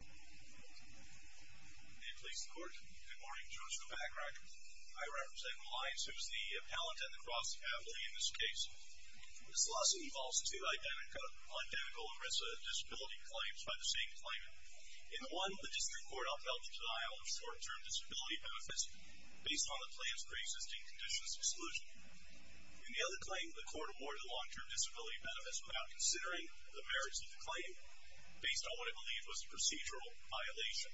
May it please the Court. Good morning, Judge Kovacrock. I represent Reliance, who is the appellant at the Cross Ability in this case. This lawsuit involves two identical ERISA disability claims by the same claimant. In the one, the District Court upheld the denial of short-term disability benefits based on the claims for existing conditions of exclusion. In the other claim, the Court awarded a long-term disability benefit without considering the merits of the claim based on what it believed was a procedural violation.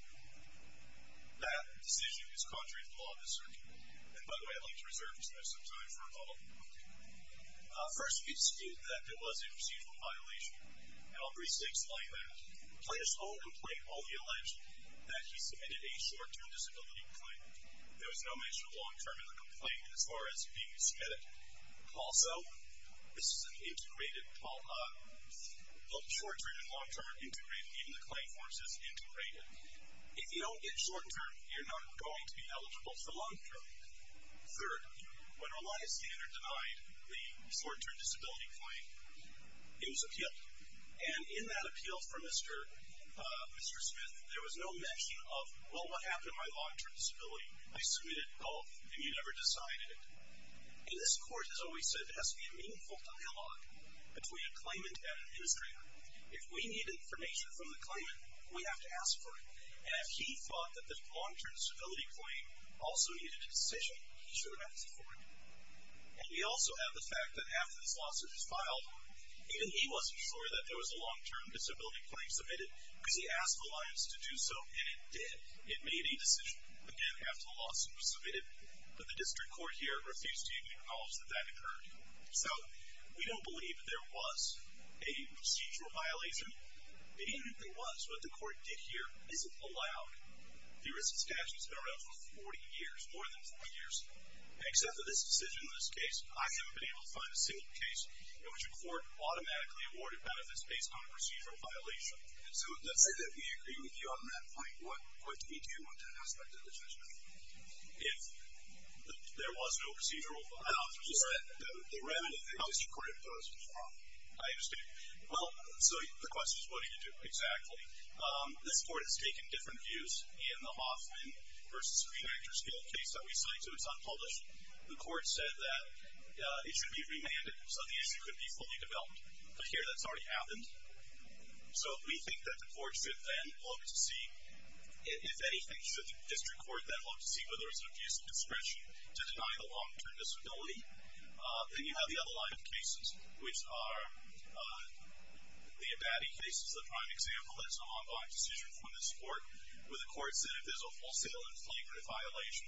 That decision is contrary to the law of this circuit. And by the way, I'd like to reserve Mr. Smith some time for a moment. First, we excuse that it was a procedural violation. And I'll briefly explain that. The plaintiff's whole complaint only alleged that he submitted a short-term disability claim. There was no mention of long-term in the complaint as far as being submitted. Also, this is an application that is short-term and long-term integrated, even the claim forms as integrated. If you don't get short-term, you're not going to be eligible for long-term. Third, when Reliance the editor denied the short-term disability claim, it was appealed. And in that appeal for Mr. Smith, there was no mention of, well, what happened to my long-term disability? I submitted both, and you never decided it. And this Court has always said it has to be a meaningful dialogue between a claimant and an administrator. If we need information from the claimant, we have to ask for it. And if he thought that the long-term disability claim also needed a decision, he should have asked for it. And we also have the fact that after this lawsuit was filed, even he wasn't sure that there was a long-term disability claim submitted because he asked Reliance to do so, and it did. It made a decision, again, after the lawsuit was submitted. But the district court here refused to even acknowledge that that occurred. So we don't believe there was a procedural violation. We didn't think there was. What the Court did here is it allowed the risk of statute. It's been around for 40 years, more than 40 years. And except for this decision in this case, I haven't been able to find a single case in which a court automatically awarded benefits based on a procedural violation. So let's say that we agree with you on that point. What could we do on that point? I understand. Well, so the question is, what do you do? Exactly. This Court has taken different views in the Hoffman v. Screen Actors Guild case that we cite, so it's unpublished. The Court said that it should be remanded so the issue could be fully developed. But here that's already happened. So we think that the Court should then look to see if anything, should the district court then look to see whether there's an abuse of discretion to deny the long-term disability? Then you have the other line of cases, which are the Abadie case is the prime example. It's an ongoing decision from this Court, where the Court said if there's a wholesale and flagrant violation,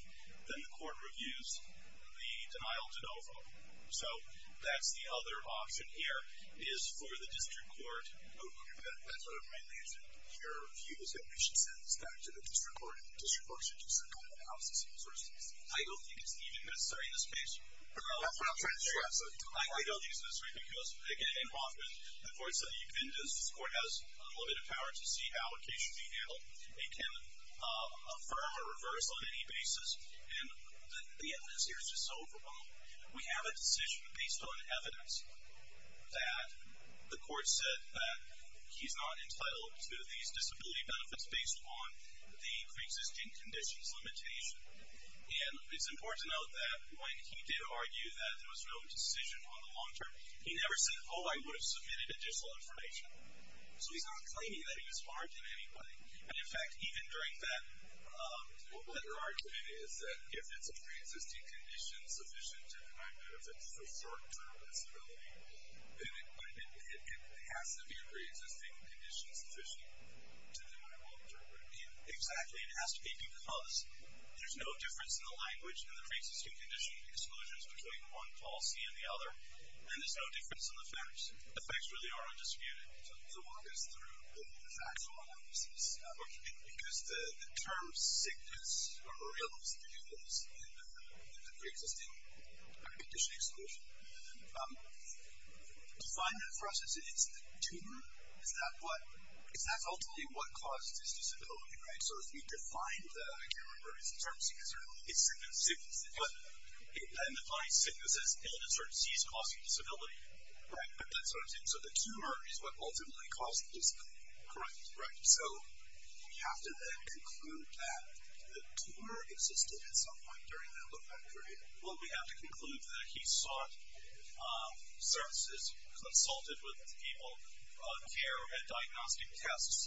then the Court reviews the denial to no vote. So that's the other option here, is for the district court to go through that. That's what it mainly is. Your view is that we should send this back to the district court and the district court should I don't think it's even necessary in this case. That's what I'm trying to say. I don't think it's necessary because, again, in Hoffman, the Court said that this Court has unlimited power to see how a case should be handled. It can affirm or reverse on any basis, and the evidence here is just so overwhelming. We have a decision based on evidence that the Court said that he's not And it's important to note that when he did argue that there was no decision on the long-term, he never said, oh, I would have submitted additional information. So he's not claiming that he was harmed in any way. And, in fact, even during that letter argument is that if it's a pre-existing condition sufficient to deny benefits for short-term disability, then it has to be a pre-existing condition sufficient to deny well-interpreted pain. Exactly. It has to be because there's no difference in the language in the pre-existing condition exclusions between one policy and the other, and there's no difference in the facts. The facts really are undisputed. So the work is through the factual analysis. Okay. Because the term sickness or real sickness in the pre-existing condition exclusion, to find that for us it's the tumor, is that what, is that ultimately what caused his disability, right? So if we define the, I can't remember if it's the term sickness or real, it's sickness. Sickness. But, and the fine sickness is illness or disease causing disability. Right. That's what I'm saying. So the tumor is what ultimately caused the disability. Correct. Right. So we have to then conclude that the tumor existed at some point during that time. Correct. So he sought services, consulted with people, care, and diagnostic tests.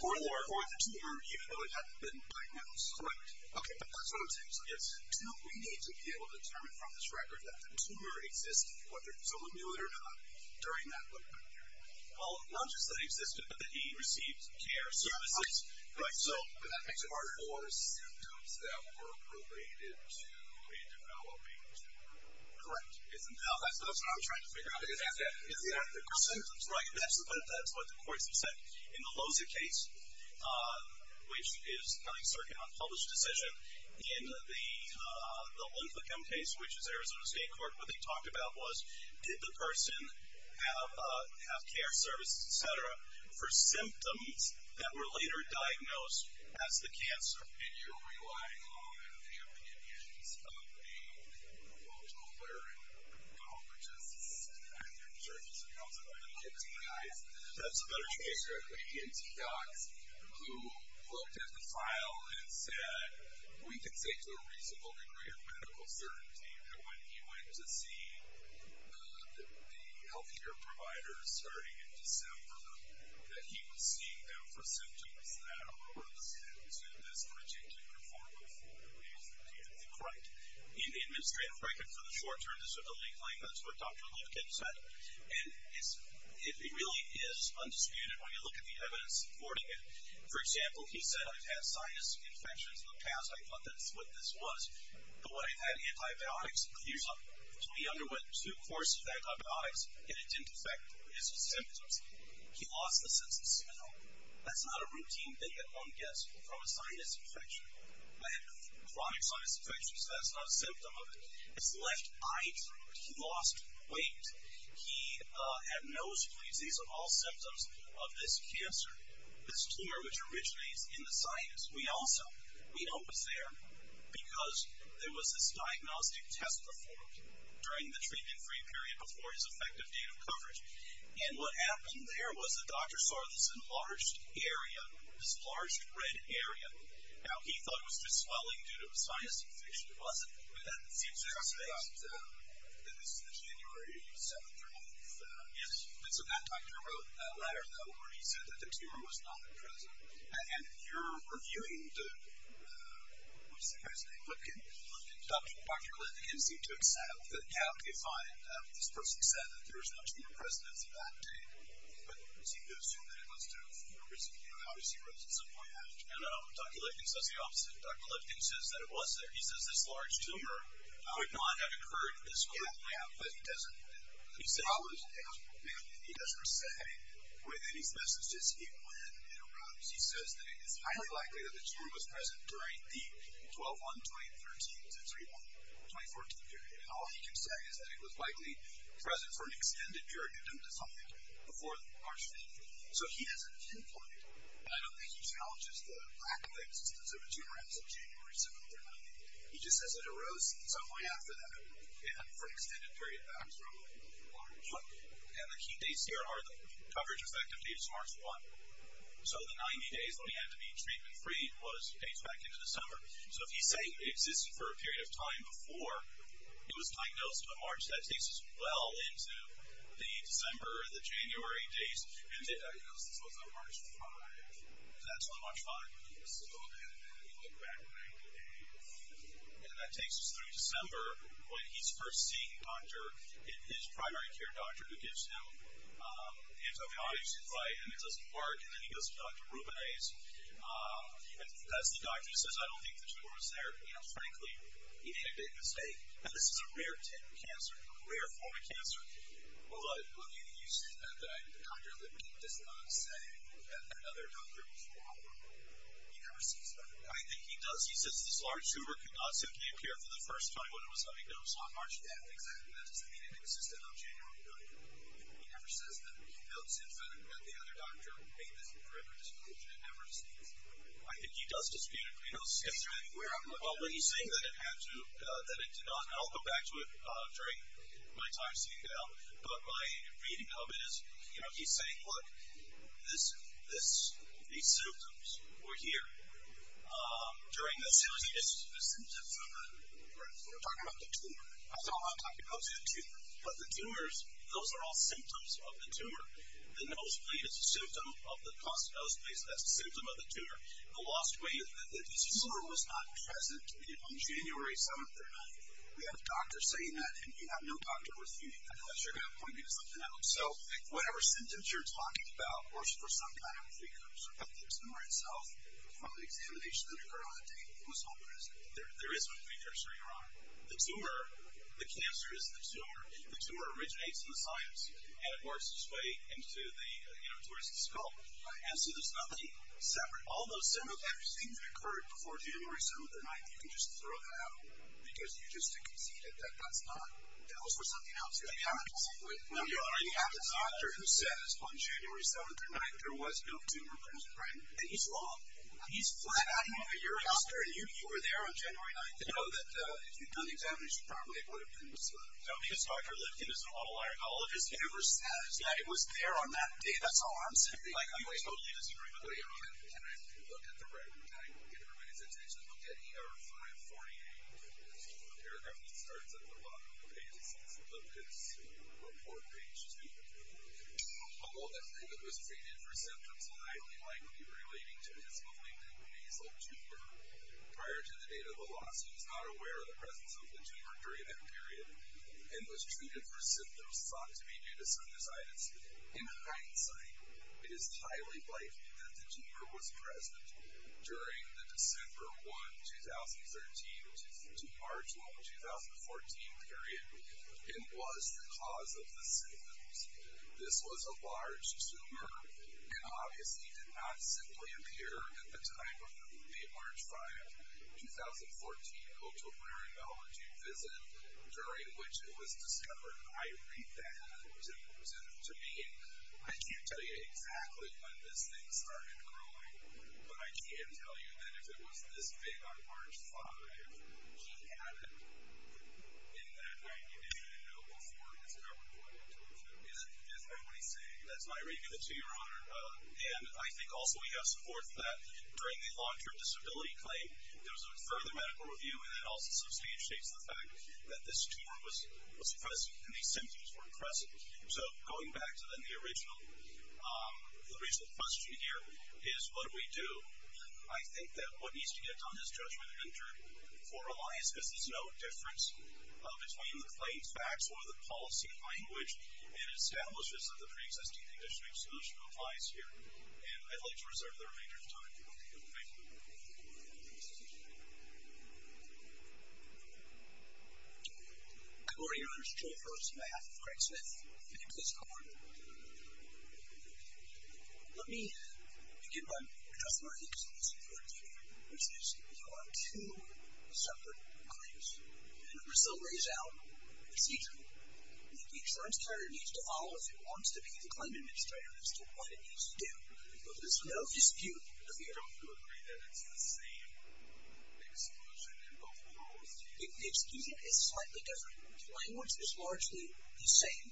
For the tumor, even though it hadn't been diagnosed. Correct. Okay. That's what I'm saying. Yes. So we need to be able to determine from this record that the tumor existed, whether someone knew it or not, during that lifetime period. Well, not just that it existed, but that he received care, services. Right. So. But that makes it harder. For symptoms that were related to a developing tumor. Correct. Now, that's what I'm trying to figure out. Is that the symptoms? Right. That's what the courts have said. In the Loza case, which is kind of a certain unpublished decision, in the lymphocamp case, which is Arizona State Court, what they talked about was did the person have care, services, et cetera, for symptoms that were later diagnosed as the cancer. And you're relying on the opinions of the, well, Toleran biologists and consultant medical team guys. That's a better choice. Or maybe it's Cox, who looked at the file and said, we can say to a reasonable degree of medical certainty that when he went to see the health care providers starting in December, that he was seeing them for symptoms that were the symptoms in this predicted form before he was treated. Correct. In the administrative record for the short-term disability claim, that's what Dr. Lifkin said. And it really is undisputed when you look at the evidence supporting it. For example, he said, I've had sinus infections in the past. I thought that's what this was. But when I've had antibiotics, usually to me underwent two courses of antibiotics and it didn't affect his symptoms. He lost the sense of smell. That's not a routine thing that one gets from a sinus infection. I've had chronic sinus infections. That's not a symptom of it. It's left eye throat. He lost weight. He had nosebleeds. These are all symptoms of this cancer, this tumor which originates in the sinus. We also, we know it was there because there was this diagnostic test performed during the treatment-free period before his effective date of treatment. And what happened there was the doctor saw this enlarged area, this enlarged red area. Now, he thought it was just swelling due to a sinus infection. It wasn't. But that seems to be the case. This is January 7th or 8th. Yes. And so that doctor wrote a letter, though, where he said that the tumor was not present. And if you're reviewing the, what was the guy's name? Dr. Lifkin. Dr. Lifkin seemed to have found that this person said that there was not a tumor present at that date. But we seem to assume that it must have, you know, obviously rose at some point after. No, no, no. Dr. Lifkin says the opposite. Dr. Lifkin says that it was there. He says this large tumor would not have occurred this quickly. Yeah, yeah. But he doesn't say within his messages when it arose. He says that it's highly likely that the tumor was present during the 12-1-2013 to 3-1-2014 period. And all he can say is that it was likely present for an extended period, something before the March 5th. So he has a template. I don't think he challenges the lack of existence of a tumor as of January 7th or 9th. He just says it arose some way after that, and for an extended period of time. And the key dates here are the coverage effective dates March 1. So the 90 days when he had to be treatment-free was dates back into the summer. So if he's saying it existed for a period of time before he was diagnosed on March, that takes us well into the December, the January dates. And he goes, this was on March 5th. That's when March 5th. So then he went back to the 90 days. And that takes us through December when he's first seeing a doctor, his primary care doctor, who gives him antibiotics to fight him. It doesn't work. And then he goes to Dr. Rubines. And as the doctor says, I don't think the tumor was there. You know, frankly, he made a big mistake. This is a rare type of cancer, a rare form of cancer. Well, look, you said that Dr. Libby does not say that another doctor was wrong. He never says that. I mean, he does. He says this large tumor could not simply appear for the first time when it was diagnosed on March 5th. Exactly. That doesn't mean it existed on January 9th. He never says that. He notes in fact that the other doctor made the correct disclosure. He never says that. I think he does dispute it. Well, when he's saying that it had to, that it did not, and I'll go back to it during my time sitting down. But my reading of it is, you know, he's saying, look, these symptoms were here during this. The symptoms of the tumor. We're talking about the tumor. That's all I'm talking about is the tumor. But the tumors, those are all symptoms of the tumor. The nosebleed is a symptom of the tumor. The lost weight, the tumor was not present on January 7th or 9th. We have doctors saying that, and we have no doctor with you. Unless you're going to point me to something else. So whatever symptoms you're talking about were some kind of precursor. The tumor itself, from the examination that occurred on that day, it was homeless. There is no precursor, Your Honor. The tumor, the cancer is the tumor. The tumor originates in the science. And it works its way into the uterus and skull. And so there's nothing separate. All those symptoms, everything that occurred before January 7th or 9th, you can just throw that out because you just conceded that that's not. That was for something else. You have a doctor who says on January 7th or 9th, there was no tumor present. Right? And he's wrong. He's flat out. You're a doctor, and you were there on January 9th. You know that if you'd done the examination properly, it would have been disclosed. No, because Dr. Lipkin is an auto-laryngologist. He never says that it was there on that day. That's all I'm saying. Like, we totally disagree with that. Wait a minute. Can I look at the record? Can I get everybody's attention? Look at ER 548. The paragraph that starts at the bottom of the page, it says Lipkin's report page 2. Although that statement was created for symptoms highly likely relating to his malignant nasal tumor, prior to the date of the loss, he was not aware of the presence of the tumor during that period and was treated for symptoms thought to be due to sinusitis. In hindsight, it is highly likely that the tumor was present during the December 1, 2013 to March 1, 2014 period, and was the cause of the symptoms. This was a large tumor and obviously did not simply appear at the time of the March 5, 2014 auto-laryngology visit, during which it was discovered. I read that. To me, I can't tell you exactly when this thing started growing, but I can tell you that if it was this big on March 5, he had it in that night. And I know before it was covered by the tumor. Is that what he's saying? That's what I read. To your honor. And I think also we have support for that. During the long-term disability claim, there was a further medical review, and that also substantiates the fact that this tumor was present and these symptoms were present. So going back to then the original question here is what do we do? I think that what needs to get done is judgment entered for Elias, because there's no difference between the claims facts or the policy language, and establishes that the preexisting condition of exclusion applies here. And I'd like to reserve the remainder of the time for you. Thank you. Good morning, Your Honor. This is Joe Phelps on behalf of Craig Smith. Thank you for this call. Let me begin by addressing what I think is the most important issue, which is there are two separate claims. And if Brazil lays out an exclusion, the insurance provider needs to follow, if it wants to be the claim administrator, as to what it needs to do. There's no dispute. Don't you agree that it's the same exclusion in both worlds? The exclusion is slightly different. The language is largely the same.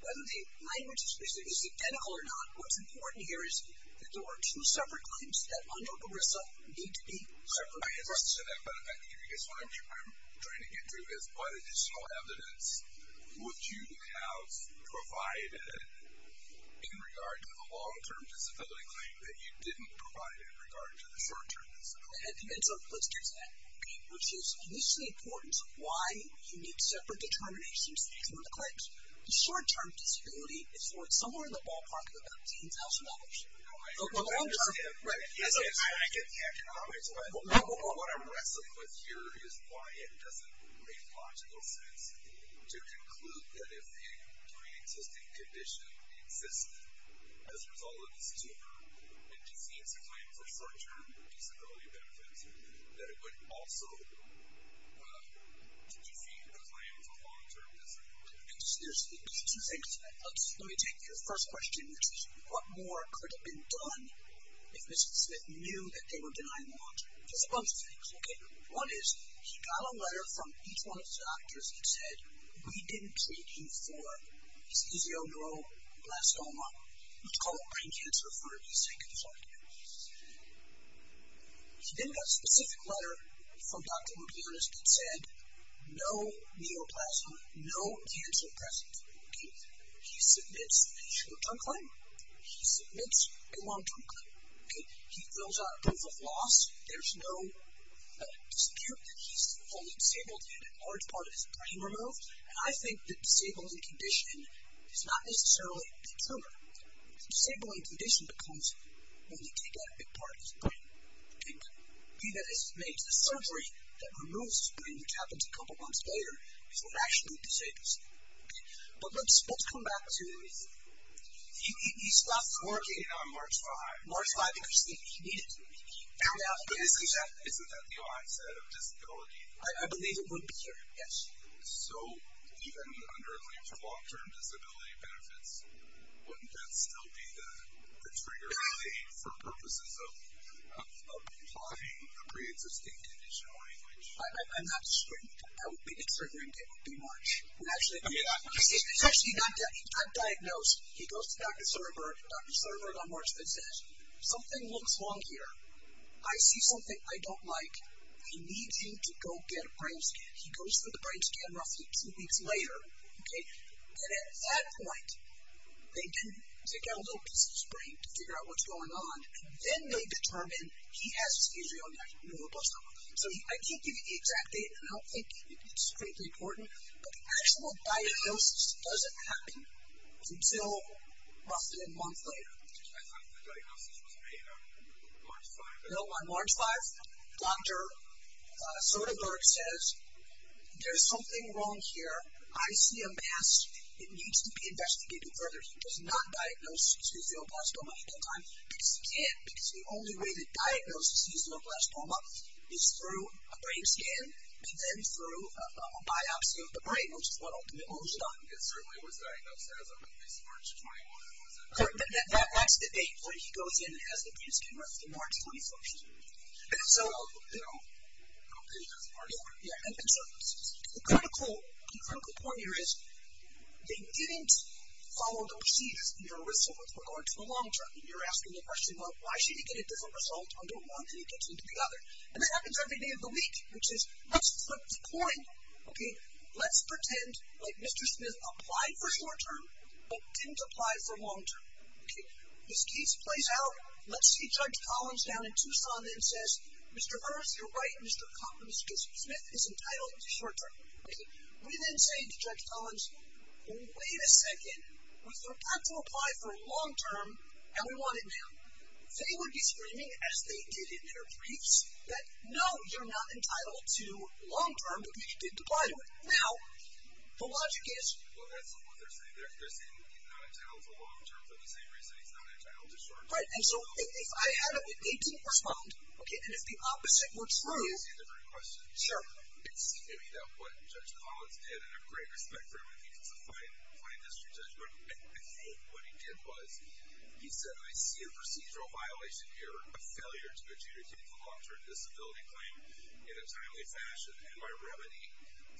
Whether the language is identical or not, what's important here is that there are two separate claims that under I guess what I'm trying to get to is what additional evidence would you have provided in regard to the long-term disability claim that you didn't provide in regard to the short-term disability claim? Let's do that. Which is, this is the importance of why you need separate determinations for the claims. The short-term disability is somewhere in the ballpark of $15,000. I get the economics, but what I'm wrestling with here is why it doesn't make logical sense to conclude that if a pre-existing condition existed as a result of this tumor, it defeats the claims of short-term disability benefits, that it would also defeat the claims of long-term disability benefits. Let me take your first question, which is, what more could have been done if Mr. Smith knew that they were denying the long-term disability claim? There's a bunch of things, okay? One is, he got a letter from each one of his doctors that said, we didn't treat you for these ischial neuroblastoma, which is called brain cancer for a reason. It's hard to understand. He then got a specific letter from Dr. Morganis that said, no neoplasm, no cancer present. He submits the short-term claim. He submits a long-term claim. He fills out a proof of loss. There's no dispute that he's fully disabled. He had a large part of his brain removed, and I think the disabling condition is not necessarily the tumor. The disabling condition becomes when they take out a big part of his brain. The surgery that removes his brain, which happens a couple months later, is what actually disables him. But let's come back to, he stopped working on March 5. March 5, because he needed to. Isn't that the onset of disability? I believe it would be, yes. So even under a leap for long-term disability benefits, wouldn't that still be the trigger for purposes of applying the creative state conditional language? I'm not discreet. I would be the trigger and it would be March. He's actually not diagnosed. He goes to Dr. Sutterberg. Dr. Sutterberg on March 5 says, something looks wrong here. I see something I don't like. I need you to go get a brain scan. He goes for the brain scan roughly two weeks later, and at that point, they get a little piece of his brain to figure out what's going on, and then they determine he has schizophrenia. So I can't give you the exact date, and I don't think it's critically important, but the actual diagnosis doesn't happen until roughly a month later. I thought the diagnosis was made on March 5. No, on March 5. Dr. Sutterberg says, there's something wrong here. I see a mass. It needs to be investigated further. He does not diagnose his neoplasma at that time, because he can't, because the only way to diagnose his neoplasma is through a brain scan and then through a biopsy of the brain, which is what ultimately was done. It certainly was diagnosed as of at least March 21. That's the date where he goes in and has the brain scan, which is March 21. And so, you know, I don't think that's part of it. The critical point here is, they didn't follow the procedures, the results were going to the long term, and you're asking the question, well, why should you get a different result under one than it gets into the other? And this happens every day of the week, which is, let's flip the coin. Let's pretend like Mr. Smith applied for short term, but didn't apply for long term. This case plays out. Let's see Judge Collins down in Tucson and says, Mr. Hearst, you're right. Mr. Smith is entitled to short term. We then say to Judge Collins, wait a second. We forgot to apply for long term, and we want it now. They would be screaming, as they did in their briefs, that no, you're not entitled to long term, because you did apply to it. Now, the logic is... Well, that's not what they're saying. They're saying he's not entitled to long term for the same reason he's not entitled to short term. Right, and so if I had a, if he didn't respond, and if the opposite were true... Let me ask you a different question. Sure. It seemed to me that what Judge Collins did, and I have great respect for him, if he's a fine history judge, but I think what he did was, he said, I see a procedural violation here, a failure to adjudicate the long term disability claim in a timely fashion, and my remedy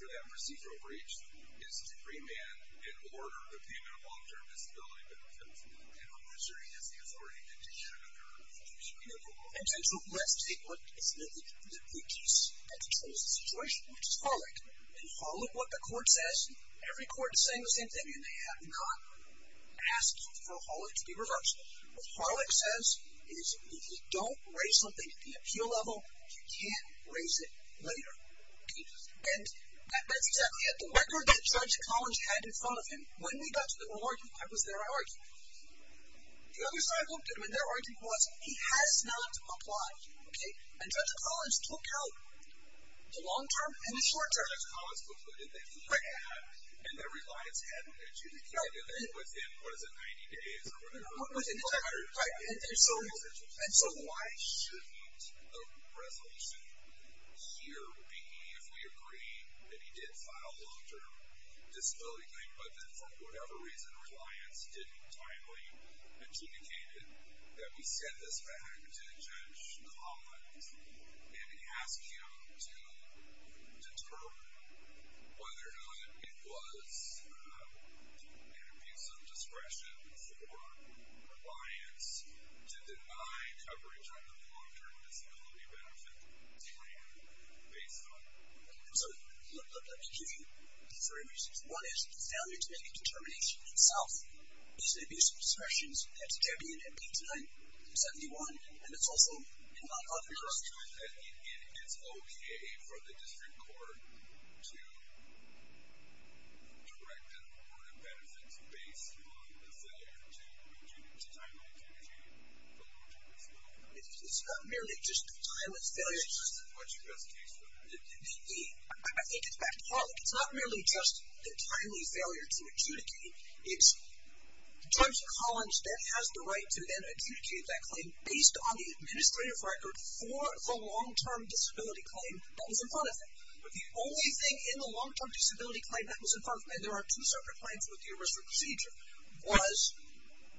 for that procedural breach is to remand and order the payment of long term disability benefits. And I'm not sure he has the authority to do that under a full screen of the law. And so let's take what Mr. Smith did in the briefs and control the situation, which is followed, and follow what the court says. Every court is saying the same thing, and they have not asked for Harlick to be reversed. What Harlick says is, if you don't raise something at the appeal level, you can't raise it later. And that's exactly it. The record that Judge Collins had in front of him, when we got to the court, I was there arguing. The other side looked at him, and their argument was, he has not applied, okay? And Judge Collins took out the long term and the short term. Judge Collins concluded that he had, and that Reliance hadn't adjudicated within, what is it, 90 days or whatever? And so why shouldn't the resolution here be, if we agree that he did file a long term disability claim, but then for whatever reason, Reliance didn't finally adjudicate it, that we send this back to Judge Collins and ask him to determine whether or not it was an abuse of discretion for Reliance to deny coverage on the long term disability benefit claim based on. So, let me give you three reasons. One is, it's valid to make a determination itself. It's an abuse of discretion. It's there being an appeal denied in 71, and it's also in line with other charges. The second is that it's okay for the district court to direct a court of benefits based on a failure to timely adjudicate the long term disability claim. It's not merely just a timely failure. That's just what you guys case for. I think it's back to Harlan. It's not merely just a timely failure to adjudicate. Judge Collins then has the right to then adjudicate that claim based on the administrative record for the long term disability claim that was in front of him. But the only thing in the long term disability claim that was in front of him, and there are two separate claims with the original procedure, was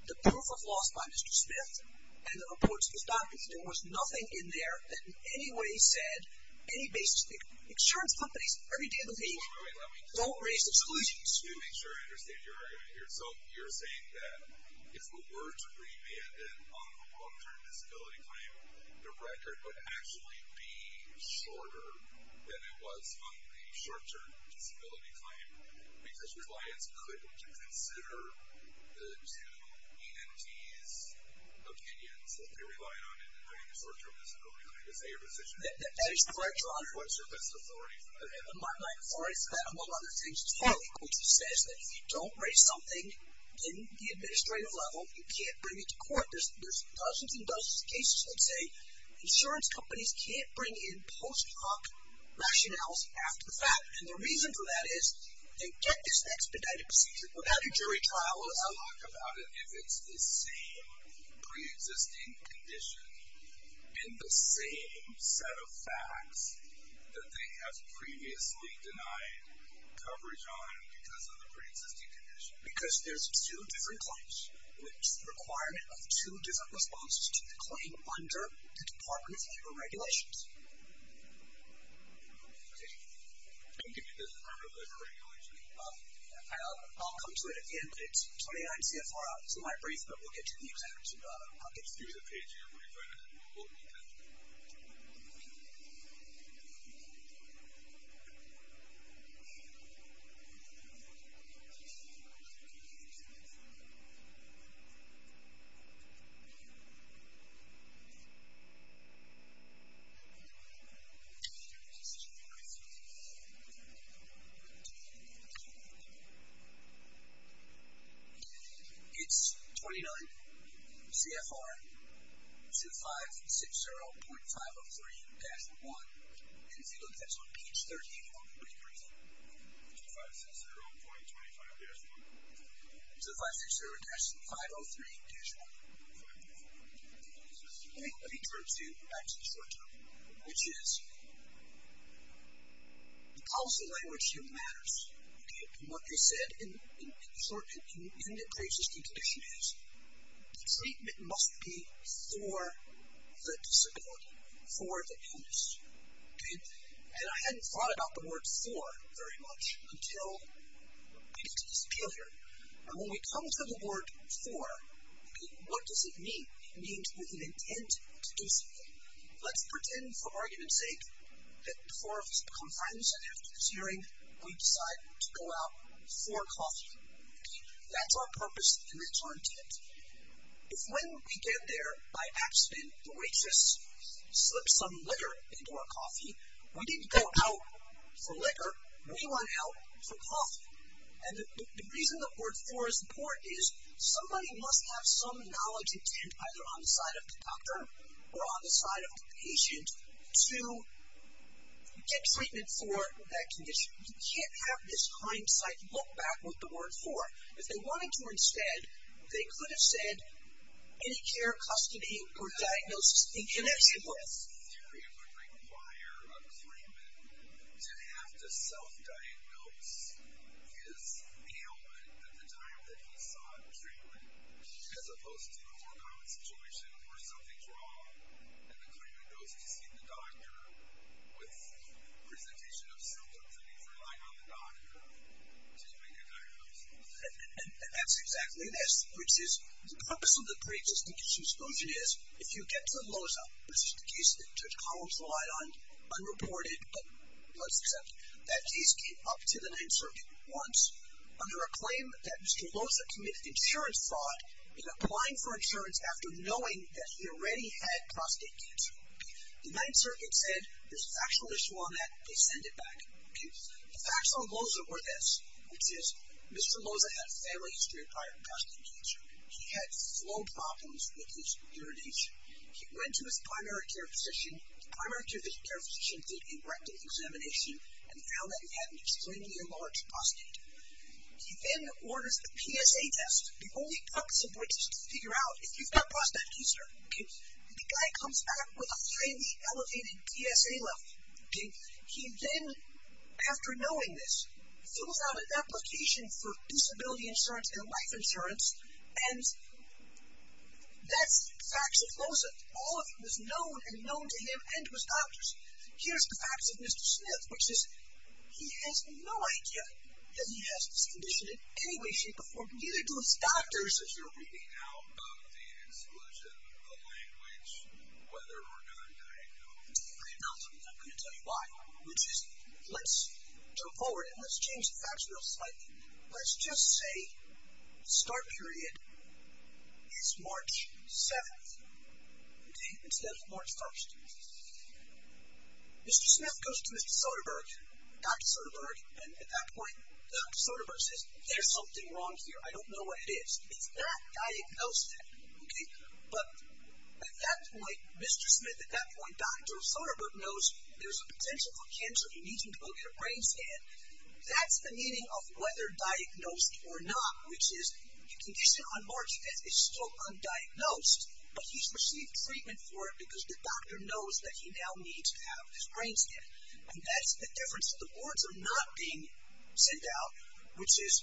the proof of loss by Mr. Smith and the reports of his documents. There was nothing in there that in any way said any basis. Insurance companies, every day of the week, don't raise exclusions. Let me make sure I understand your argument here. So you're saying that if it were to be remanded on the long term disability claim, the record would actually be shorter than it was on the short term disability claim because clients couldn't consider the two EMTs' opinions that they relied on in doing the short term disability claim. Is that your position? That is correct, Your Honor. What's your best authority for that? My authority for that, among other things, is that if you don't raise something in the administrative level, you can't bring it to court. There's dozens and dozens of cases that say insurance companies can't bring in post hoc rationales after the fact. And the reason for that is you get this expedited procedure without a jury trial. Talk about it if it's the same pre-existing condition and the same set of facts that they have previously denied coverage on because of the pre-existing condition. Because there's two different claims with the requirement of two different responses to the claim under the Department of Labor regulations. Okay. And give me the Department of Labor regulations. I'll come to it at the end, but it's 29 CFR. It's in my brief, but we'll get to the exact buckets. Give me the page here where you find it. We'll need that. Okay. It's 29 CFR 0560.503-1. And if you look, that's on page 34. What are you reading? 0560.25-1. It's 0560-503-1. 0560-503-1. Okay. Let me turn to actually the short term, which is the policy language here matters. Okay. From what you said, in the short term, even the pre-existing condition is the treatment must be for the disability, for the illness. Okay. And I hadn't thought about the word for very much until I got to this period. And when we come to the word for, what does it mean? It means with an intent to do something. Let's pretend, for argument's sake, that the four of us become friends, and after this hearing, we decide to go out for coffee. Okay. That's our purpose, and that's our intent. When we get there, by accident, the waitress slips some liquor into our coffee. We didn't go out for liquor. We went out for coffee. And the reason the word for is important is somebody must have some knowledge intent, either on the side of the doctor or on the side of the patient, to get treatment for that condition. You can't have this hindsight look back with the word for. If they wanted to instead, they could have said any care, custody, or diagnosis. And that's important. In this theory, it would require a claimant to have to self-diagnose his ailment at the time that he saw it was really, as opposed to a more common situation where something's wrong, and the claimant goes to see the doctor with the presentation of symptoms and he's relying on the doctor to make a diagnosis. And that's exactly this, which is the purpose of the pre-existing consumption is if you get to Loza, which is the case that Judge Collins relied on, unreported, but let's accept that case came up to the Ninth Circuit once, under a claim that Mr. Loza committed insurance fraud in applying for insurance after knowing that he already had prostate cancer. The Ninth Circuit said there's a factual issue on that. They send it back. The facts on Loza were this, which is Mr. Loza had family history of prior prostate cancer. He had flow problems with his urination. He went to his primary care physician. The primary care physician did a rectal examination and found that he had an extremely enlarged prostate. He then orders a PSA test. The only consequence is to figure out if you've got prostate cancer. The guy comes back with a highly elevated PSA level. He then, after knowing this, fills out an application for disability insurance and life insurance, and that's facts of Loza. All of it was known and known to him and to his doctors. Here's the facts of Mr. Smith, which is he has no idea that he has this condition in any way, shape, or form, neither do his doctors. As you're reading out of the exclusion, the language, whether or not I know this, I'm going to tell you why, which is let's jump forward and let's change the facts real slightly. Let's just say the start period is March 7th instead of March 1st. Mr. Smith goes to Mr. Soderberg, Dr. Soderberg, and at that point, Dr. Soderberg says, There's something wrong here. I don't know what it is. It's that diagnosis, okay? But at that point, Mr. Smith, at that point, Dr. Soderberg, knows there's a potential for cancer. He needs him to go get a brain scan. That's the meaning of whether diagnosed or not, which is the condition on March 5th is still undiagnosed, but he's received treatment for it because the doctor knows that he now needs to have his brain scan, and that's the difference. The words are not being sent out, which is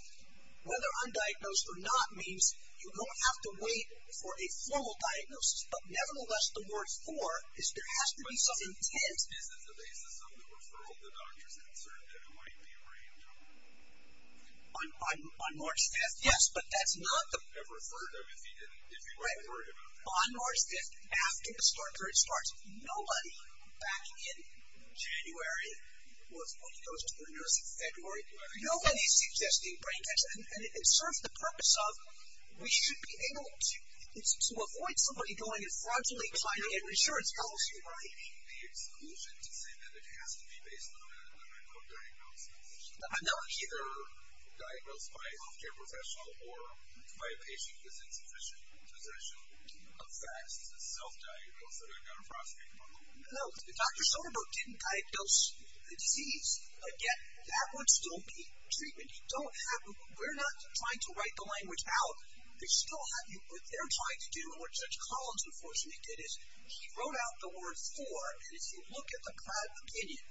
whether undiagnosed or not means you don't have to wait for a formal diagnosis, but nevertheless, the word for is there has to be some intent. Is it the basis of the referral the doctor's concerned that it might be a brain tumor? On March 5th, yes, but that's not the... Have referred him if he hadn't heard about that. On March 5th, after the start period starts, nobody back in January, well, it goes to February, nobody's suggesting brain cancer, and it serves the purpose of we should be able to avoid somebody going and fraudulently trying to get insurance policy, right? The exclusion to say that it has to be based on a medical diagnosis and not either diagnosed by a health care professional or by a patient with insufficient possession of facts is a self-diagnosis that I've got to prosecute for. No, if Dr. Soderbergh didn't diagnose the disease, yet that would still be treatment. We're not trying to write the language out. What they're trying to do, and what Judge Collins, unfortunately, did is he wrote out the word for, and if you look at the Pratt opinion,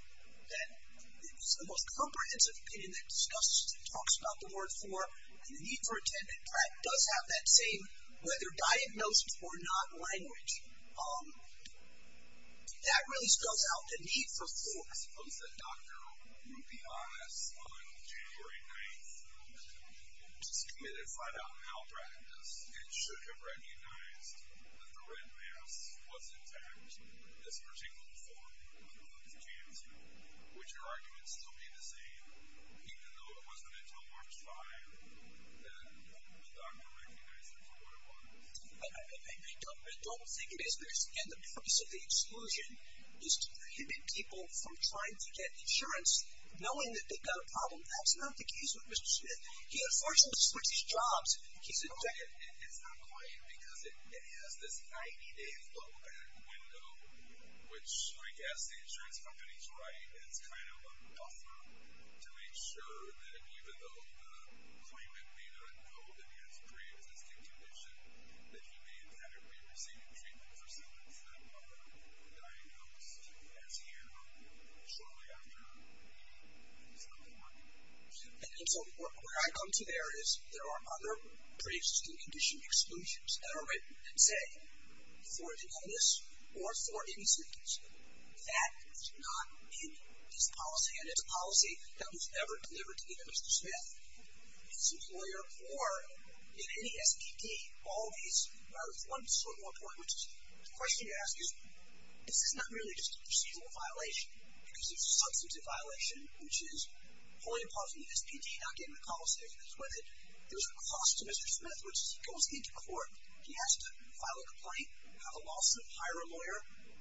it's the most comprehensive opinion that discusses, talks about the word for, and the need for intent, and Pratt does have that same whether diagnosed or not language. That really spells out the need for for. I suppose the doctor, to be honest, on January 9th, was committed to find out how Pratt did this, and should have recognized that the red mass was intact in this particular form, even though there's a chance, would your argument still be the same even though it wasn't until March 5th that the doctor recognized it for what it was? I don't think it is, because, again, the purpose of the exclusion is to prohibit people from trying to get insurance knowing that they've got a problem. That's not the case with Mr. Smith. He, unfortunately, switched his jobs. It's not quite, because it has this 90-day flowback window, which, I guess, the insurance companies write as kind of a buffer to make sure that even though the claimant may not know that he has pre-existing condition, that he may have had a pre-receiving treatment for someone from a diagnosed as you And so where I come to there is, there are other pre-existing condition exclusions that are written that say, for a diagnosis or for any significance. That is not in this policy, and it's a policy that was never delivered to either Mr. Smith, his employer, or any SPD. All these are sort of important. The question you ask is, is this not really just a procedural violation? Because it's a substantive violation, which is pulling apart from the SPD, not getting the policy agreements with it. There's a cost to Mr. Smith, which goes into court. He has to file a complaint, have a lawsuit, hire a lawyer.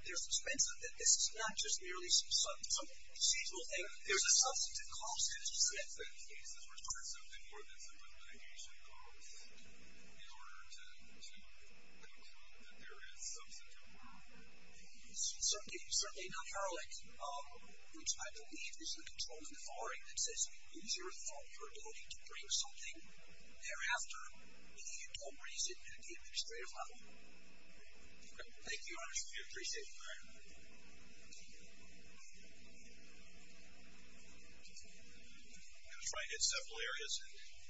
There's expense of it. This is not just merely some procedural thing. There's a substantive cost to Mr. Smith. Does that in some cases require something more than a substantive mitigation cost in order to conclude that there is substantive harm? It's certainly not paralytic, which I believe is the control in the following that says, use your authority or ability to bring something thereafter if you don't raise it at the administrative level. Thank you, I appreciate it. All right. I'm going to try and hit several areas.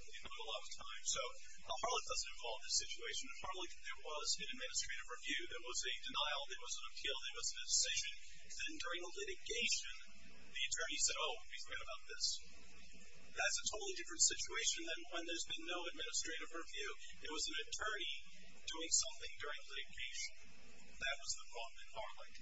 We don't have a lot of time. So Harlech doesn't involve this situation. In Harlech, there was an administrative review. There was a denial. There was an appeal. There was a decision. Then during the litigation, the attorney said, oh, we forgot about this. That's a totally different situation than when there's been no administrative review. It was an attorney doing something during litigation. That was the problem in Harlech.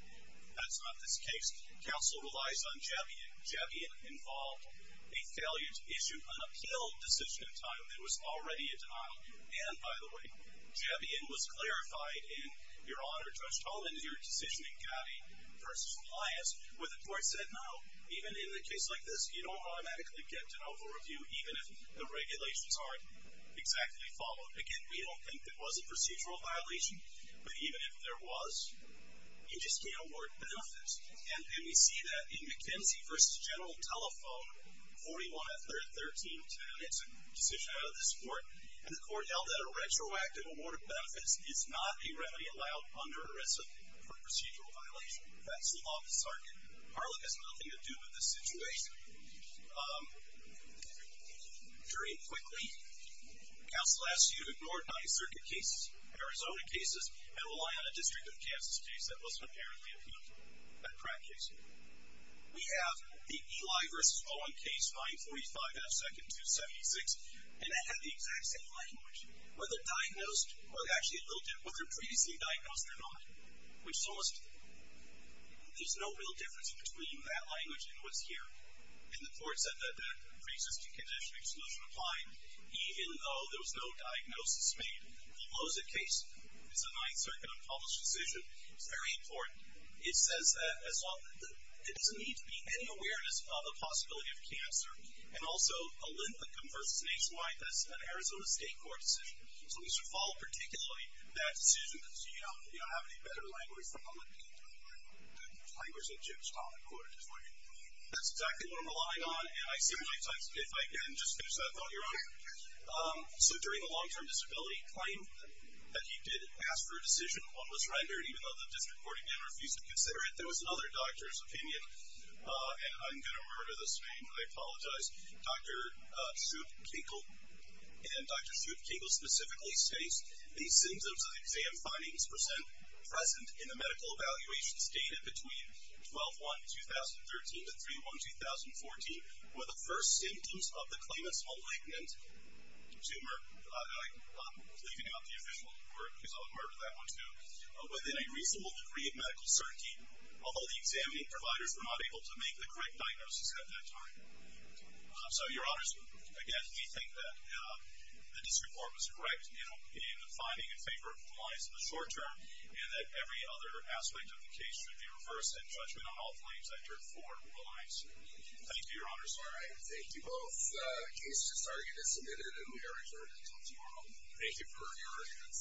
That's not this case. Counsel relies on Javion. Javion involved a failure to issue an appeal decision in time. It was already a denial. And, by the way, Javion was clarified, and your Honor, Judge Toland, your decision in Gatti v. Elias, where the court said, no, even in a case like this, you don't automatically get an over-review even if the regulations aren't exactly followed. Again, we don't think it was a procedural violation, but even if there was, you just can't award benefits. And we see that in McKenzie v. General Telephone, 41-13-10. It's a decision out of this court. And the court held that a retroactive award of benefits is not a remedy allowed under ERISA for procedural violation. That's the law of the circuit. Harlech has nothing to do with this situation. Um, jury, quickly, counsel asks you to ignore nine circuit cases, Arizona cases, and rely on a district of Kansas case that was prepared for the appeal for that crack case. We have the Eli v. Owen case, 545 F. 2nd, 276, and it had the exact same language, whether diagnosed or actually looked at, whether previously diagnosed or not, which almost... there's no real difference between that language and what's here. And the court said that the preexisting condition exclusion applied, even though there was no diagnosis made. The Loza case is a ninth circuit unpolished decision. It's very important. It says that... there doesn't need to be any awareness of the possibility of cancer. And also, OLYMPA converts nationwide. That's an Arizona state court decision. So we should follow particularly that decision, because you don't have any better language from OLYMPA to apply. The language that Jim's talking about is what you need. That's exactly what I'm relying on, and I see my time's up. If I can just finish that up on your own. Um, so during the long-term disability claim that you did ask for a decision, one was rendered, even though the district court again refused to consider it. There was another doctor's opinion, and I'm going to murder this name. I apologize. Dr. Shute-Kinkle... and Dr. Shute-Kinkle specifically states, the symptoms of the exam findings present in the medical evaluations dated between 12-1-2013 to 3-1-2014 were the first symptoms of the claimant's malignant tumor. I'm leaving out the official report, because I'll murder that one, too. Within a reasonable degree of medical certainty, although the examining providers were not able to make the correct diagnosis at that time. Um, so, your honors, again, we think that, uh, the district court was correct in finding in favor of compliance in the short-term, and that every other aspect of the case should be reversed, and judgment on all claims entered forward will be released. Thank you, your honors. All right, thank you both. The case is just starting to get submitted, and we are adjourned until tomorrow. Thank you for your attendance.